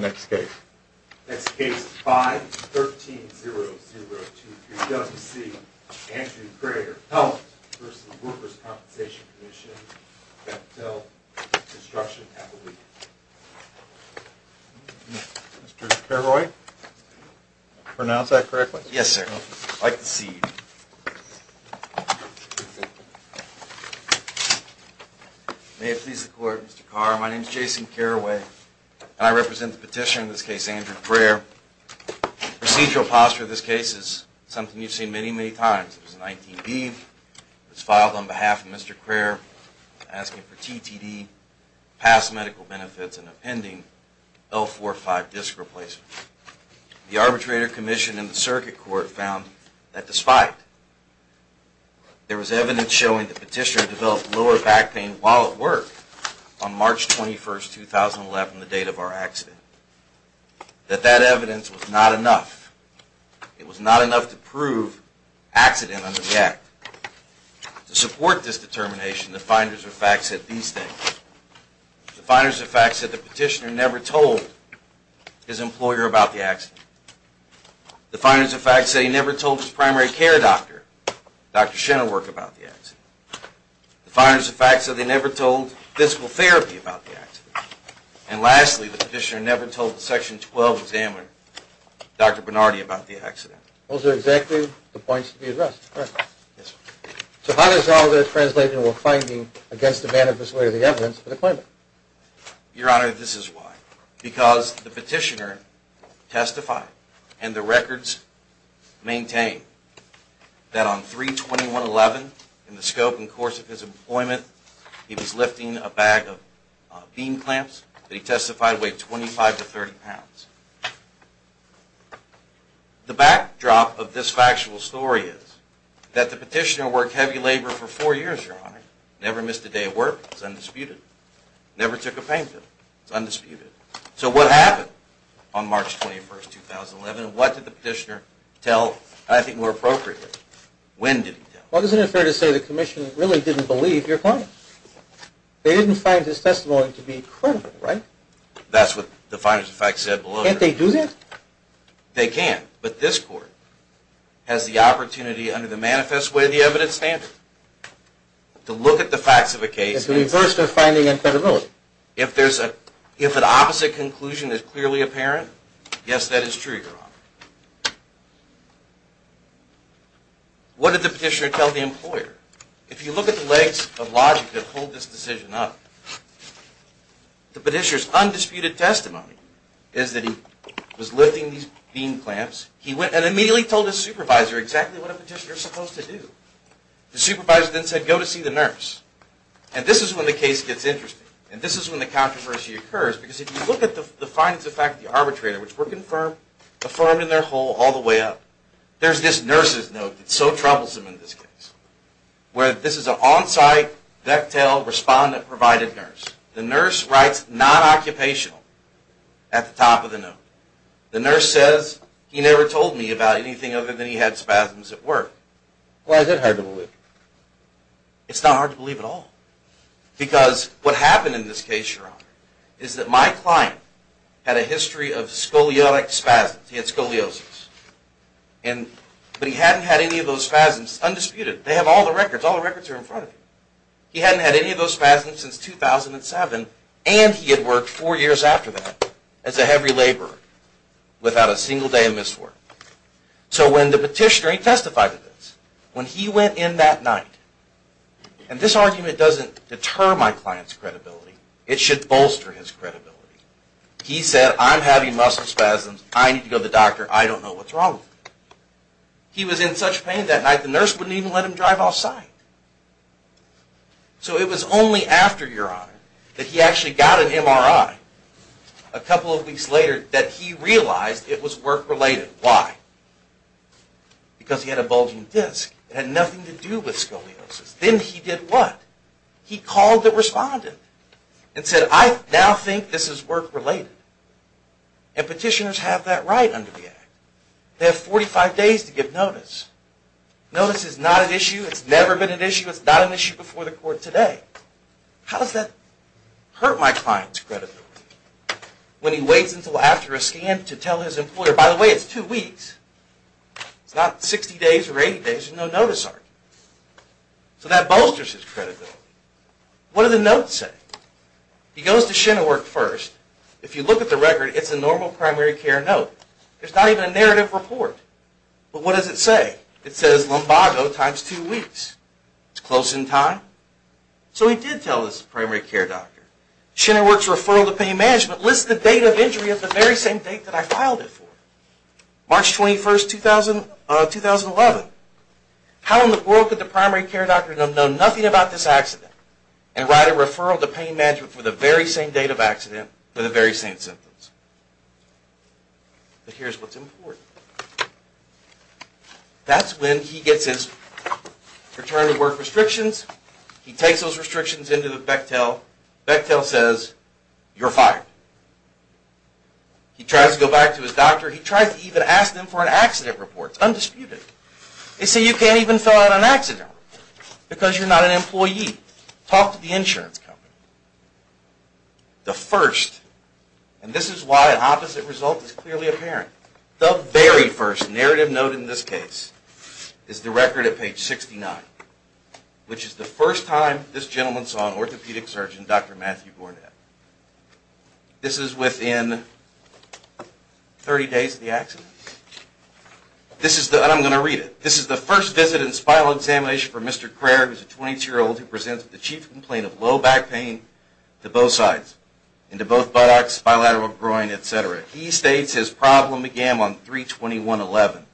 Next case 513-0023-WC, Andrew Crayer v. Workers' Compensation Comm'n Mr. Carraway, pronounce that correctly. Yes, sir. I like the C. May it please the Court, Mr. Carraway. My name is Jason Carraway, and I represent the petitioner in this case, Andrew Crayer. The procedural posture of this case is something you've seen many, many times. It was an ITV that was filed on behalf of Mr. Crayer, asking for TTD, past medical benefits, and a pending L45 disc replacement. The Arbitrator Commission and the Circuit Court found that despite there was evidence showing the petitioner developed lower back pain while at work on March 21, 2011, the date of our accident, that that evidence was not enough. It was not enough to prove accident under the Act. To support this determination, the finders of fact said these things. The finders of fact said the petitioner never told his employer about the accident. The finders of fact said he never told his primary care doctor, Dr. Shenowork, about the accident. The finders of fact said they never told physical therapy about the accident. And lastly, the petitioner never told the Section 12 examiner, Dr. Bernardi, about the accident. Those are exactly the points to be addressed. So how does all of this translate into a finding against the manifesto of the evidence for the claimant? Your Honor, this is why. Because the petitioner testified, and the records maintain, that on March 21, 2011, in the scope and course of his employment, he was lifting a bag of bean clamps that he testified weighed 25 to 30 pounds. The backdrop of this factual story is that the petitioner worked heavy labor for four years, Your Honor. Never missed a day of work. It's undisputed. Never took a payment. It's undisputed. So what happened on March 21, 2011, and what did the petitioner tell, I think, more appropriately? When did he tell? Well, isn't it fair to say the Commission really didn't believe your claimant? They didn't find his testimony to be credible, right? That's what the finder of facts said below. Can't they do that? They can, but this Court has the opportunity, under the manifest way of the evidence standard, to look at the facts of a case. And to reverse their finding and credibility. If an opposite conclusion is clearly apparent, yes, that is true, Your Honor. What did the petitioner tell the employer? If you look at the legs of logic that hold this decision up, the petitioner's undisputed testimony is that he was lifting these bean clamps. He went and immediately told his supervisor exactly what a petitioner is supposed to do. The supervisor then said, go to see the nurse. And this is when the case gets interesting. And this is when the controversy occurs. Because if you look at the findings of fact of the arbitrator, which were confirmed, affirmed in their whole, all the way up, there's this nurse's note that's so troublesome in this case. Where this is an on-site, vectile, respondent-provided nurse. The nurse writes non-occupational at the top of the note. The nurse says, he never told me about anything other than he had spasms at work. Why is that hard to believe? It's not hard to believe at all. Because what happened in this case, Your Honor, is that my client had a history of scolioic spasms. He had scoliosis. But he hadn't had any of those spasms, undisputed. They have all the records. All the records are in front of you. He hadn't had any of those spasms since 2007. And he had worked four years after that as a heavy laborer without a single day of missed work. So when the petitioner, he testified to this. When he went in that night, and this argument doesn't deter my client's credibility. It should bolster his credibility. He said, I'm having muscle spasms. I need to go to the doctor. I don't know what's wrong with me. He was in such pain that night, the nurse wouldn't even let him drive off site. So it was only after, Your Honor, that he actually got an MRI, a couple of weeks later, that he realized it was work-related. Why? Because he had a bulging disc. It had nothing to do with scoliosis. Then he did what? He called the respondent and said, I now think this is work-related. And petitioners have that right under the Act. They have 45 days to give notice. Notice is not an issue. It's never been an issue. It's not an issue before the court today. How does that hurt my client's credibility? When he waits until after a scan to tell his employer, by the way, it's two weeks. It's not 60 days or 80 days with no notice on it. So that bolsters his credibility. What do the notes say? He goes to Shinnerwork first. If you look at the record, it's a normal primary care note. There's not even a narrative report. But what does it say? It says lumbago times two weeks. It's close in time. So he did tell his primary care doctor. Shinnerwork's referral to pain management lists the date of injury at the very same date that I filed it for, March 21, 2011. How in the world could the primary care doctor know nothing about this accident and write a referral to pain management for the very same date of accident for the very same symptoms? But here's what's important. That's when he gets his return to work restrictions. He takes those restrictions into Bechtel. Bechtel says, you're fired. He tries to go back to his doctor. He tries to even ask them for an accident report. It's undisputed. They say, you can't even fill out an accident report because you're not an employee. Talk to the insurance company. The first, and this is why an opposite result is clearly apparent, the very first narrative note in this case is the record at page 69, which is the first time this gentleman saw an orthopedic surgeon, Dr. Matthew Gornet. This is within 30 days of the accident. I'm going to read it. This is the first visit and spinal examination for Mr. Craer, who's a 22-year-old who presents with a chief complaint of low back pain to both sides, into both buttocks, bilateral groin, et cetera. He states his problem began on 3-21-11.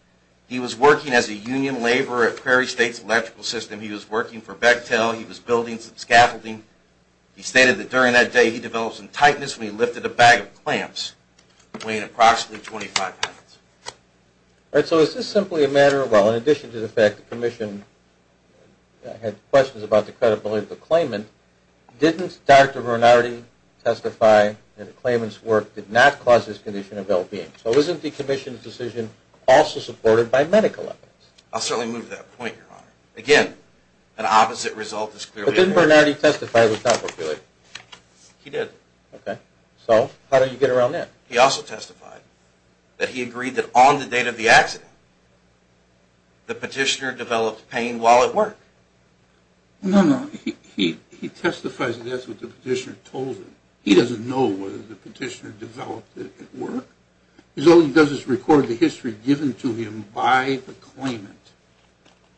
He was working as a union laborer at Prairie State's electrical system. He was working for Bechtel. He was building some scaffolding. He stated that during that day he developed some tightness when he lifted a bag of clamps weighing approximately 25 pounds. All right, so is this simply a matter of, well, in addition to the fact that the commission had questions about the credibility of the claimant, didn't Dr. Bernardi testify that the claimant's work did not cause this condition of LBM? So isn't the commission's decision also supported by medical evidence? I'll certainly move that point, Your Honor. Again, an opposite result is clearly apparent. But didn't Bernardi testify it was not what really? He did. Okay, so how do you get around that? He also testified that he agreed that on the date of the accident the petitioner developed pain while at work. No, no, he testifies that that's what the petitioner told him. He doesn't know whether the petitioner developed it at work. All he does is record the history given to him by the claimant.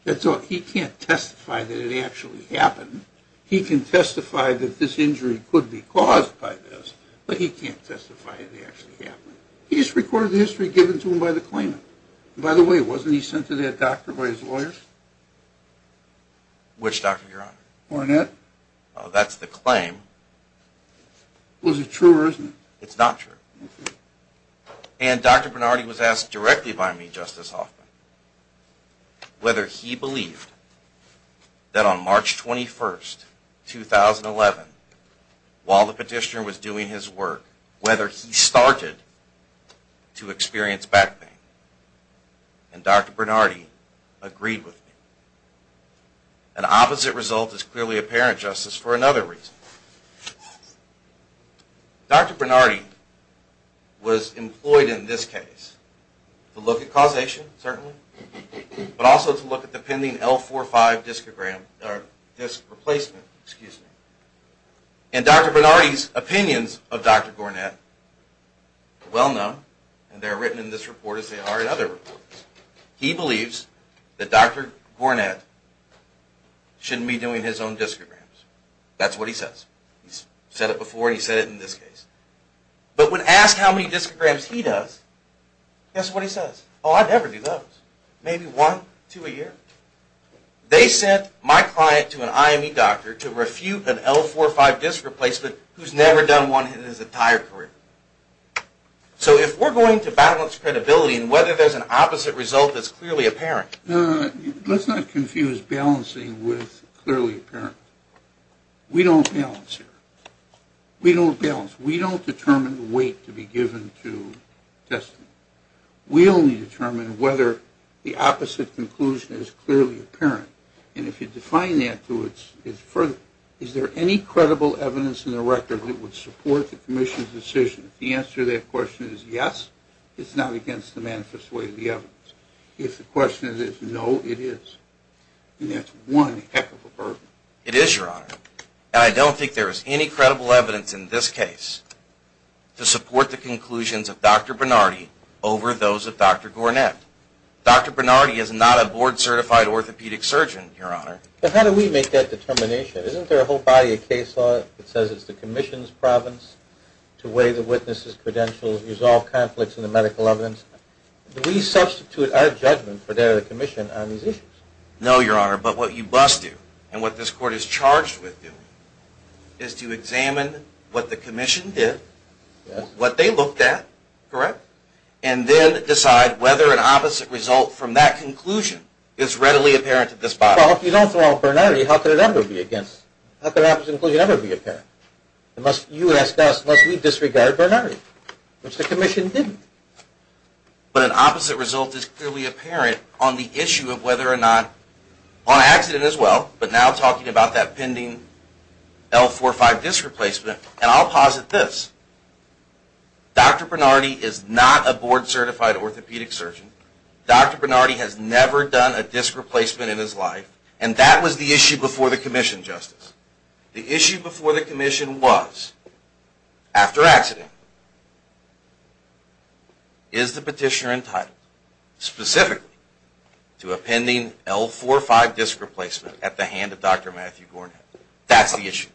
He can't testify that it actually happened. He can testify that this injury could be caused by this, but he can't testify it actually happened. He just recorded the history given to him by the claimant. By the way, wasn't he sent to that doctor by his lawyers? Which doctor, Your Honor? Barnett. That's the claim. Well, is it true or isn't it? It's not true. And Dr. Bernardi was asked directly by me, Justice Hoffman, whether he believed that on March 21, 2011, while the petitioner was doing his work, whether he started to experience back pain. And Dr. Bernardi agreed with me. An opposite result is clearly apparent, Justice, for another reason. Dr. Bernardi was employed in this case to look at causation, certainly, but also to look at the pending L45 disc replacement. And Dr. Bernardi's opinions of Dr. Gornett are well known, and they are written in this report as they are in other reports. He believes that Dr. Gornett shouldn't be doing his own discograms. That's what he says. He's said it before. He's said it in this case. But when asked how many discograms he does, guess what he says? Oh, I'd never do those. Maybe one, two a year. They sent my client to an IME doctor to refute an L45 disc replacement who's never done one in his entire career. So if we're going to balance credibility and whether there's an opposite result that's clearly apparent. Let's not confuse balancing with clearly apparent. We don't balance here. We don't balance. We don't determine the weight to be given to testing. We only determine whether the opposite conclusion is clearly apparent. And if you define that, is there any credible evidence in the record that would support the commission's decision? If the answer to that question is yes, it's not against the manifest way of the evidence. If the question is no, it is. And that's one heck of a burden. It is, Your Honor. And I don't think there is any credible evidence in this case to support the conclusions of Dr. Bernardi over those of Dr. Gornet. Dr. Bernardi is not a board-certified orthopedic surgeon, Your Honor. But how do we make that determination? Isn't there a whole body of case law that says it's the commission's province to weigh the witness's credentials, resolve conflicts in the medical evidence? Do we substitute our judgment for that of the commission on these issues? No, Your Honor. But what you must do and what this court is charged with doing is to examine what the commission did, what they looked at, correct, and then decide whether an opposite result from that conclusion is readily apparent to this body. Well, if you don't throw out Bernardi, how could it ever be against? How could an opposite conclusion ever be apparent? You ask us, must we disregard Bernardi, which the commission didn't. But an opposite result is clearly apparent on the issue of whether or not, on accident as well, but now talking about that pending L45 disc replacement, and I'll posit this. Dr. Bernardi is not a board-certified orthopedic surgeon. Dr. Bernardi has never done a disc replacement in his life, and that was the issue before the commission, Justice. The issue before the commission was, after accident, is the petitioner entitled specifically to a pending L45 disc replacement at the hand of Dr. Matthew Gornhead? That's the issue.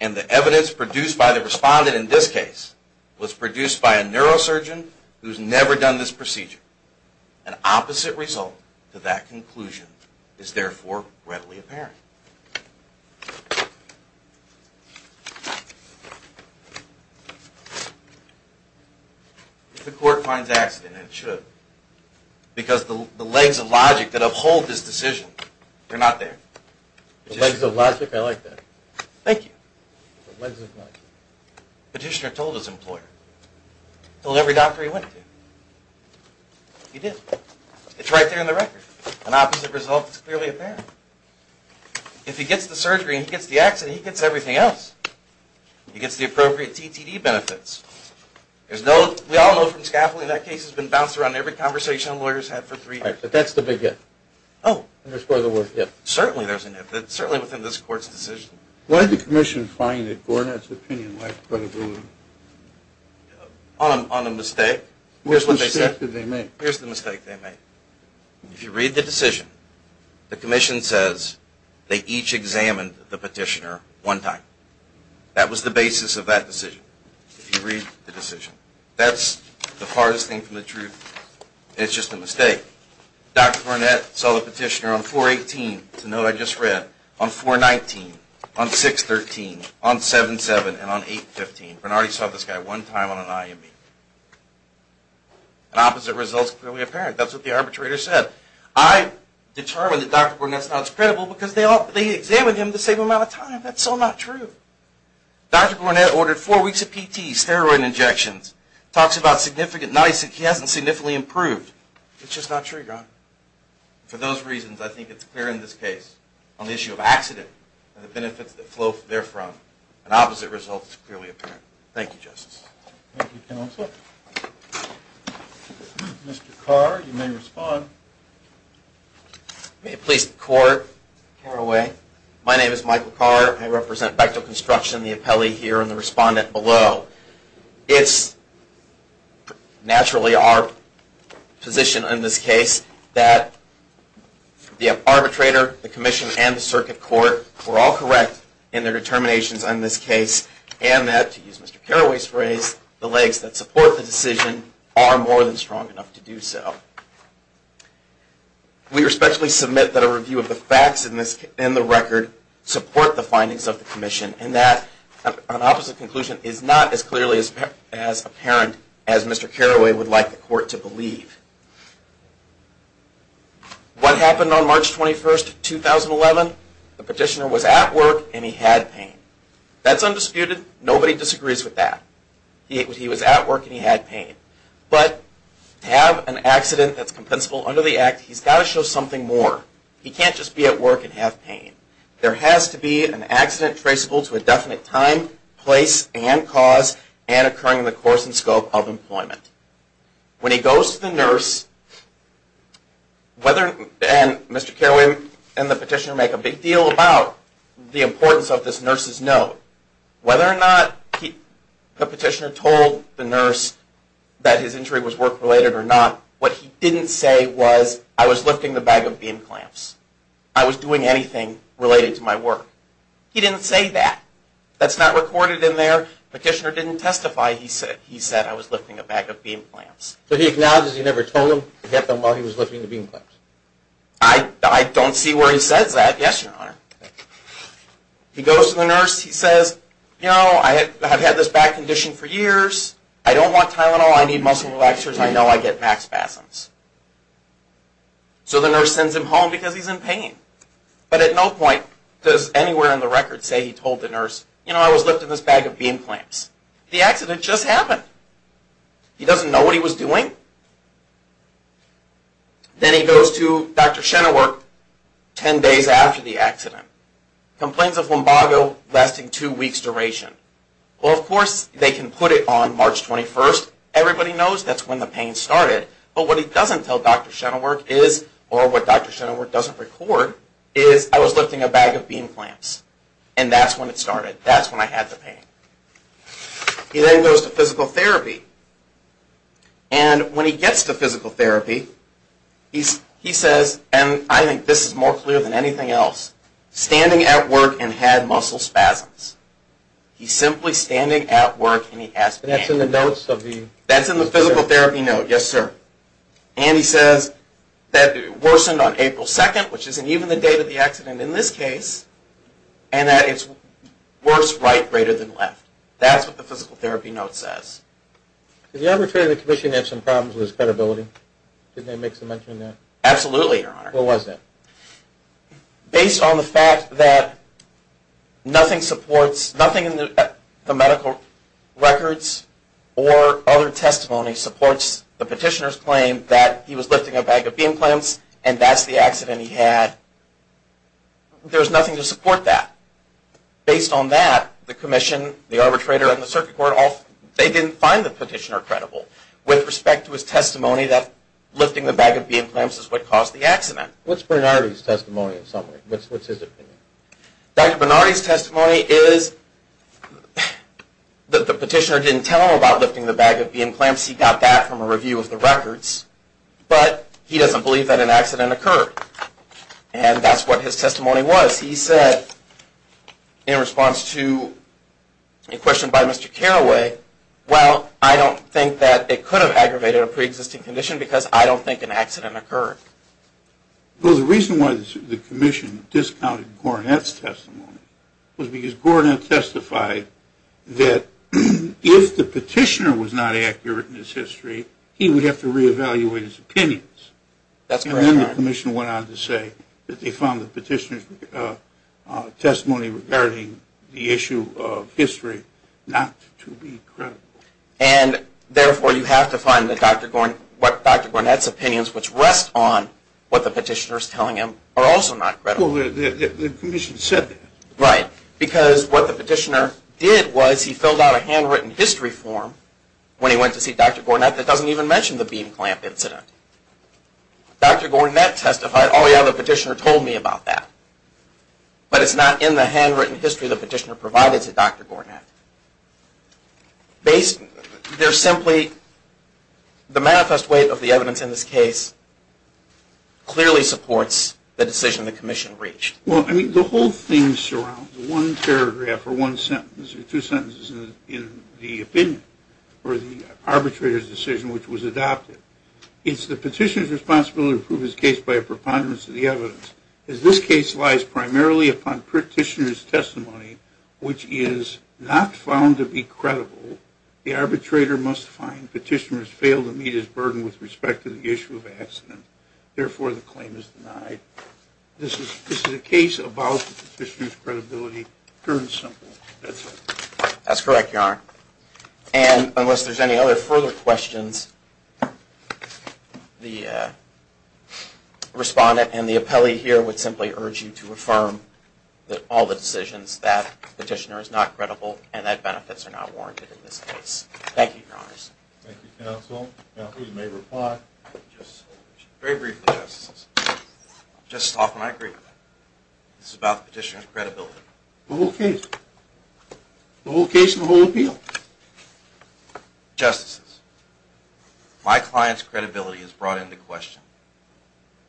And the evidence produced by the respondent in this case was produced by a neurosurgeon who's never done this procedure. An opposite result to that conclusion is therefore readily apparent. If the court finds accident, it should, because the legs of logic that uphold this decision, they're not there. The legs of logic, I like that. Thank you. The legs of logic. Petitioner told his employer. Told every doctor he went to. He did. It's right there in the record. An opposite result is clearly apparent. If he gets the surgery and he gets the accident, he gets everything else. He gets the appropriate TTD benefits. We all know from scaffolding that case has been bounced around in every conversation lawyers have for three years. But that's the big if. Oh. Certainly there's an if. It's certainly within this court's decision. Why did the commission find that Gornet's opinion was questionable? On a mistake? What mistake did they make? Here's the mistake they made. If you read the decision, the commission says they each examined the petitioner one time. That was the basis of that decision. If you read the decision. That's the farthest thing from the truth. It's just a mistake. Dr. Gornet saw the petitioner on 4-18, to note I just read. On 4-19, on 6-13, on 7-7, and on 8-15. Gornet already saw this guy one time on an IME. An opposite result is clearly apparent. That's what the arbitrator said. I determined that Dr. Gornet's not credible because they examined him the same amount of time. That's so not true. Dr. Gornet ordered four weeks of PT, steroid injections. Talks about significant, he hasn't significantly improved. It's just not true, John. For those reasons, I think it's clear in this case on the issue of accident and the benefits that flow therefrom. An opposite result is clearly apparent. Thank you, Justice. Thank you, Counselor. Mr. Carr, you may respond. May it please the Court, Caraway. My name is Michael Carr. I represent Bechtel Construction, the appellee here, and the respondent below. It's naturally our position in this case that the arbitrator, the commission, and the circuit court were all correct in their determinations in this case and that, to use Mr. Carraway's phrase, the legs that support the decision are more than strong enough to do so. We respectfully submit that a review of the facts in the record support the findings of the commission and that an opposite conclusion is not as clearly as apparent as Mr. Carraway would like the Court to believe. What happened on March 21, 2011? The petitioner was at work and he had pain. That's undisputed. Nobody disagrees with that. He was at work and he had pain. But to have an accident that's compensable under the Act, he's got to show something more. He can't just be at work and have pain. There has to be an accident traceable to a definite time, place, and cause, and occurring in the course and scope of employment. When he goes to the nurse, and Mr. Carraway and the petitioner make a big deal about the importance of this nurse's note, whether or not the petitioner told the nurse that his injury was work-related or not, what he didn't say was, I was lifting the bag of bean clamps. I was doing anything related to my work. He didn't say that. That's not recorded in there. The petitioner didn't testify. He said, I was lifting a bag of bean clamps. So he acknowledges he never told him and kept them while he was lifting the bean clamps. I don't see where he says that. Yes, Your Honor. He goes to the nurse. He says, you know, I've had this back condition for years. I don't want Tylenol. I need muscle relaxers. I know I get max spasms. So the nurse sends him home because he's in pain. But at no point does anywhere in the record say he told the nurse, you know, I was lifting this bag of bean clamps. The accident just happened. He doesn't know what he was doing. Then he goes to Dr. Chenoweth ten days after the accident. Complaints of lumbago lasting two weeks duration. Well, of course, they can put it on March 21st. Everybody knows that's when the pain started. But what he doesn't tell Dr. Chenoweth is, or what Dr. Chenoweth doesn't record, is I was lifting a bag of bean clamps, and that's when it started. That's when I had the pain. He then goes to physical therapy. And when he gets to physical therapy, he says, and I think this is more clear than anything else, standing at work and had muscle spasms. He's simply standing at work and he has pain. That's in the notes of the... That's in the physical therapy note, yes, sir. And he says that it worsened on April 2nd, which isn't even the date of the accident in this case, and that it's worse right greater than left. That's what the physical therapy note says. Did the arbitrator of the commission have some problems with his credibility? Did they make some mention of that? Absolutely, Your Honor. What was that? Based on the fact that nothing supports, nothing in the medical records or other testimony supports the petitioner's claim that he was lifting a bag of bean clamps and that's the accident he had, there's nothing to support that. Based on that, the commission, the arbitrator, and the circuit court, they didn't find the petitioner credible. With respect to his testimony that lifting the bag of bean clamps is what caused the accident. What's Bernardi's testimony in summary? What's his opinion? Dr. Bernardi's testimony is that the petitioner didn't tell him about lifting the bag of bean clamps. He got that from a review of the records. But he doesn't believe that an accident occurred. And that's what his testimony was. He said in response to a question by Mr. Carraway, well, I don't think that it could have aggravated a preexisting condition because I don't think an accident occurred. Well, the reason why the commission discounted Gornet's testimony was because Gornet testified that if the petitioner was not accurate in his history, he would have to reevaluate his opinions. And then the commission went on to say that they found the petitioner's testimony regarding the issue of history not to be credible. And therefore you have to find that Dr. Gornet's opinions which rest on what the petitioner is telling him are also not credible. Well, the commission said that. Right. Because what the petitioner did was he filled out a handwritten history form when he went to see Dr. Gornet that doesn't even mention the bean clamp incident. Dr. Gornet testified, oh, yeah, the petitioner told me about that. But it's not in the handwritten history the petitioner provided to Dr. Gornet. There's simply the manifest weight of the evidence in this case clearly supports the decision the commission reached. Well, I mean, the whole thing surrounds one paragraph or one sentence or two sentences in the opinion or the arbitrator's decision which was adopted. It's the petitioner's responsibility to prove his case by a preponderance of the evidence. This case lies primarily upon petitioner's testimony which is not found to be credible. The arbitrator must find petitioner has failed to meet his burden with respect to the issue of accident. Therefore, the claim is denied. This is a case about the petitioner's credibility, pure and simple. That's it. That's correct, Your Honor. And unless there's any other further questions, the respondent and the appellee here would simply urge you to affirm all the decisions that petitioner is not credible and that benefits are not warranted in this case. Thank you, Your Honors. Thank you, counsel. Counsel, you may reply. Just very briefly, Justices. Just off and I agree. This is about the petitioner's credibility. The whole case. The whole case and the whole appeal. Justices, my client's credibility is brought into question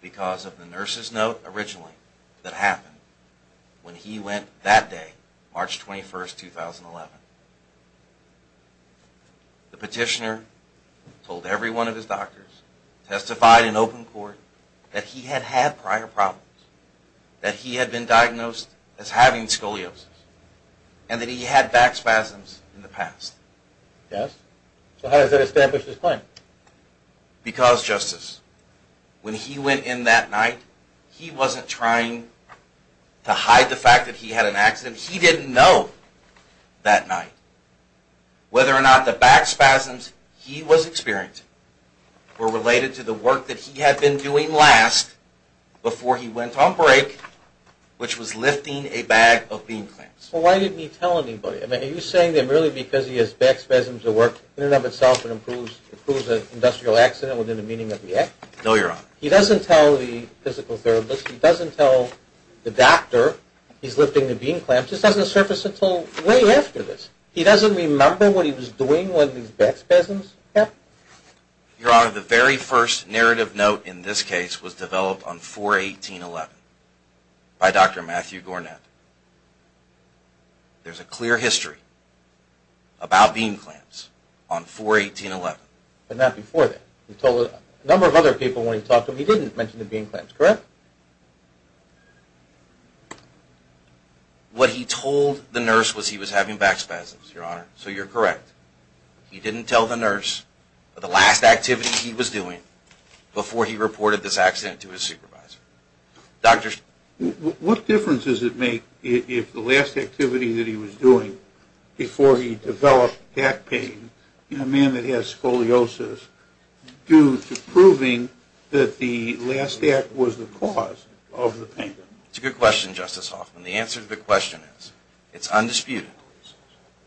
because of the nurse's note originally that happened when he went that day, March 21, 2011. The petitioner told every one of his doctors, testified in open court, that he had had prior problems, that he had been diagnosed as having scoliosis, and that he had back spasms in the past. Yes. So how does that establish his claim? Because, Justice, when he went in that night, he wasn't trying to hide the fact that he had an accident. He didn't know that night whether or not the back spasms he was experiencing were related to the work that he had been doing last before he went on break, which was lifting a bag of bean clamps. Well, why didn't he tell anybody? Are you saying that merely because he has back spasms that work in and of itself and improves an industrial accident within the meaning of the act? No, Your Honor. He doesn't tell the physical therapist. He doesn't tell the doctor he's lifting the bean clamps. This doesn't surface until way after this. He doesn't remember what he was doing when these back spasms happened. Your Honor, the very first narrative note in this case was developed on 4-18-11 by Dr. Matthew Gornet. There's a clear history about bean clamps on 4-18-11. But not before that. He told a number of other people when he talked, but he didn't mention the bean clamps, correct? What he told the nurse was he was having back spasms, Your Honor, so you're correct. He didn't tell the nurse the last activity he was doing before he reported this accident to his supervisor. What difference does it make if the last activity that he was doing before he developed that pain in a man that has scoliosis due to proving that the last act was the cause of the pain? It's a good question, Justice Hoffman. The answer to the question is it's undisputed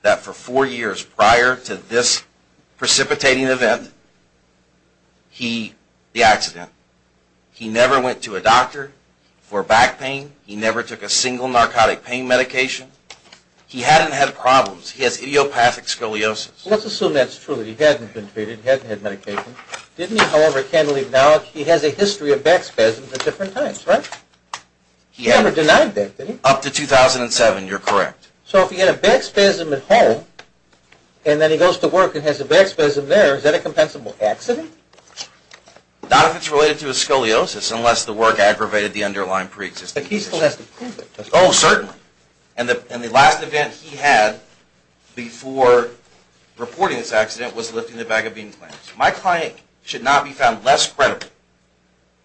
that for four years prior to this precipitating event, the accident, he never went to a doctor for back pain. He never took a single narcotic pain medication. He hadn't had problems. He has idiopathic scoliosis. Let's assume that's true. He hadn't been treated. He hadn't had medication. Didn't he, however, candidly acknowledge he has a history of back spasms at different times, right? He never denied that, did he? Up to 2007, you're correct. So if he had a back spasm at home, and then he goes to work and has a back spasm there, is that a compensable accident? Not if it's related to his scoliosis, unless the work aggravated the underlying preexistence. But he still has to prove it. Oh, certainly. And the last event he had before reporting this accident was lifting the bag of bean plants. My client should not be found less credible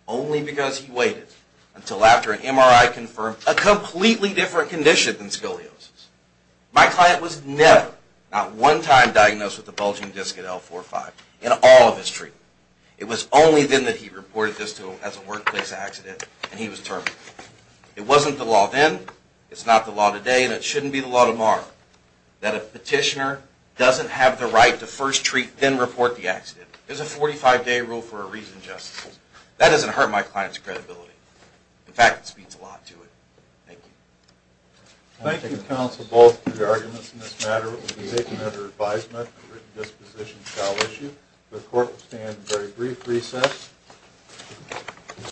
only because he waited until after an MRI confirmed a completely different condition than scoliosis. My client was never, not one time, diagnosed with a bulging disc at L4-5 in all of his treatment. It was only then that he reported this to him as a workplace accident, and he was terminated. It wasn't the law then. It's not the law today, and it shouldn't be the law tomorrow, that a petitioner doesn't have the right to first treat, then report the accident. There's a 45-day rule for a reason, justices. That doesn't hurt my client's credibility. In fact, it speaks a lot to it. Thank you. Thank you, counsel, both for your arguments in this matter. The court will be taken under advisement. A written disposition shall issue. The court will stand in very brief recess.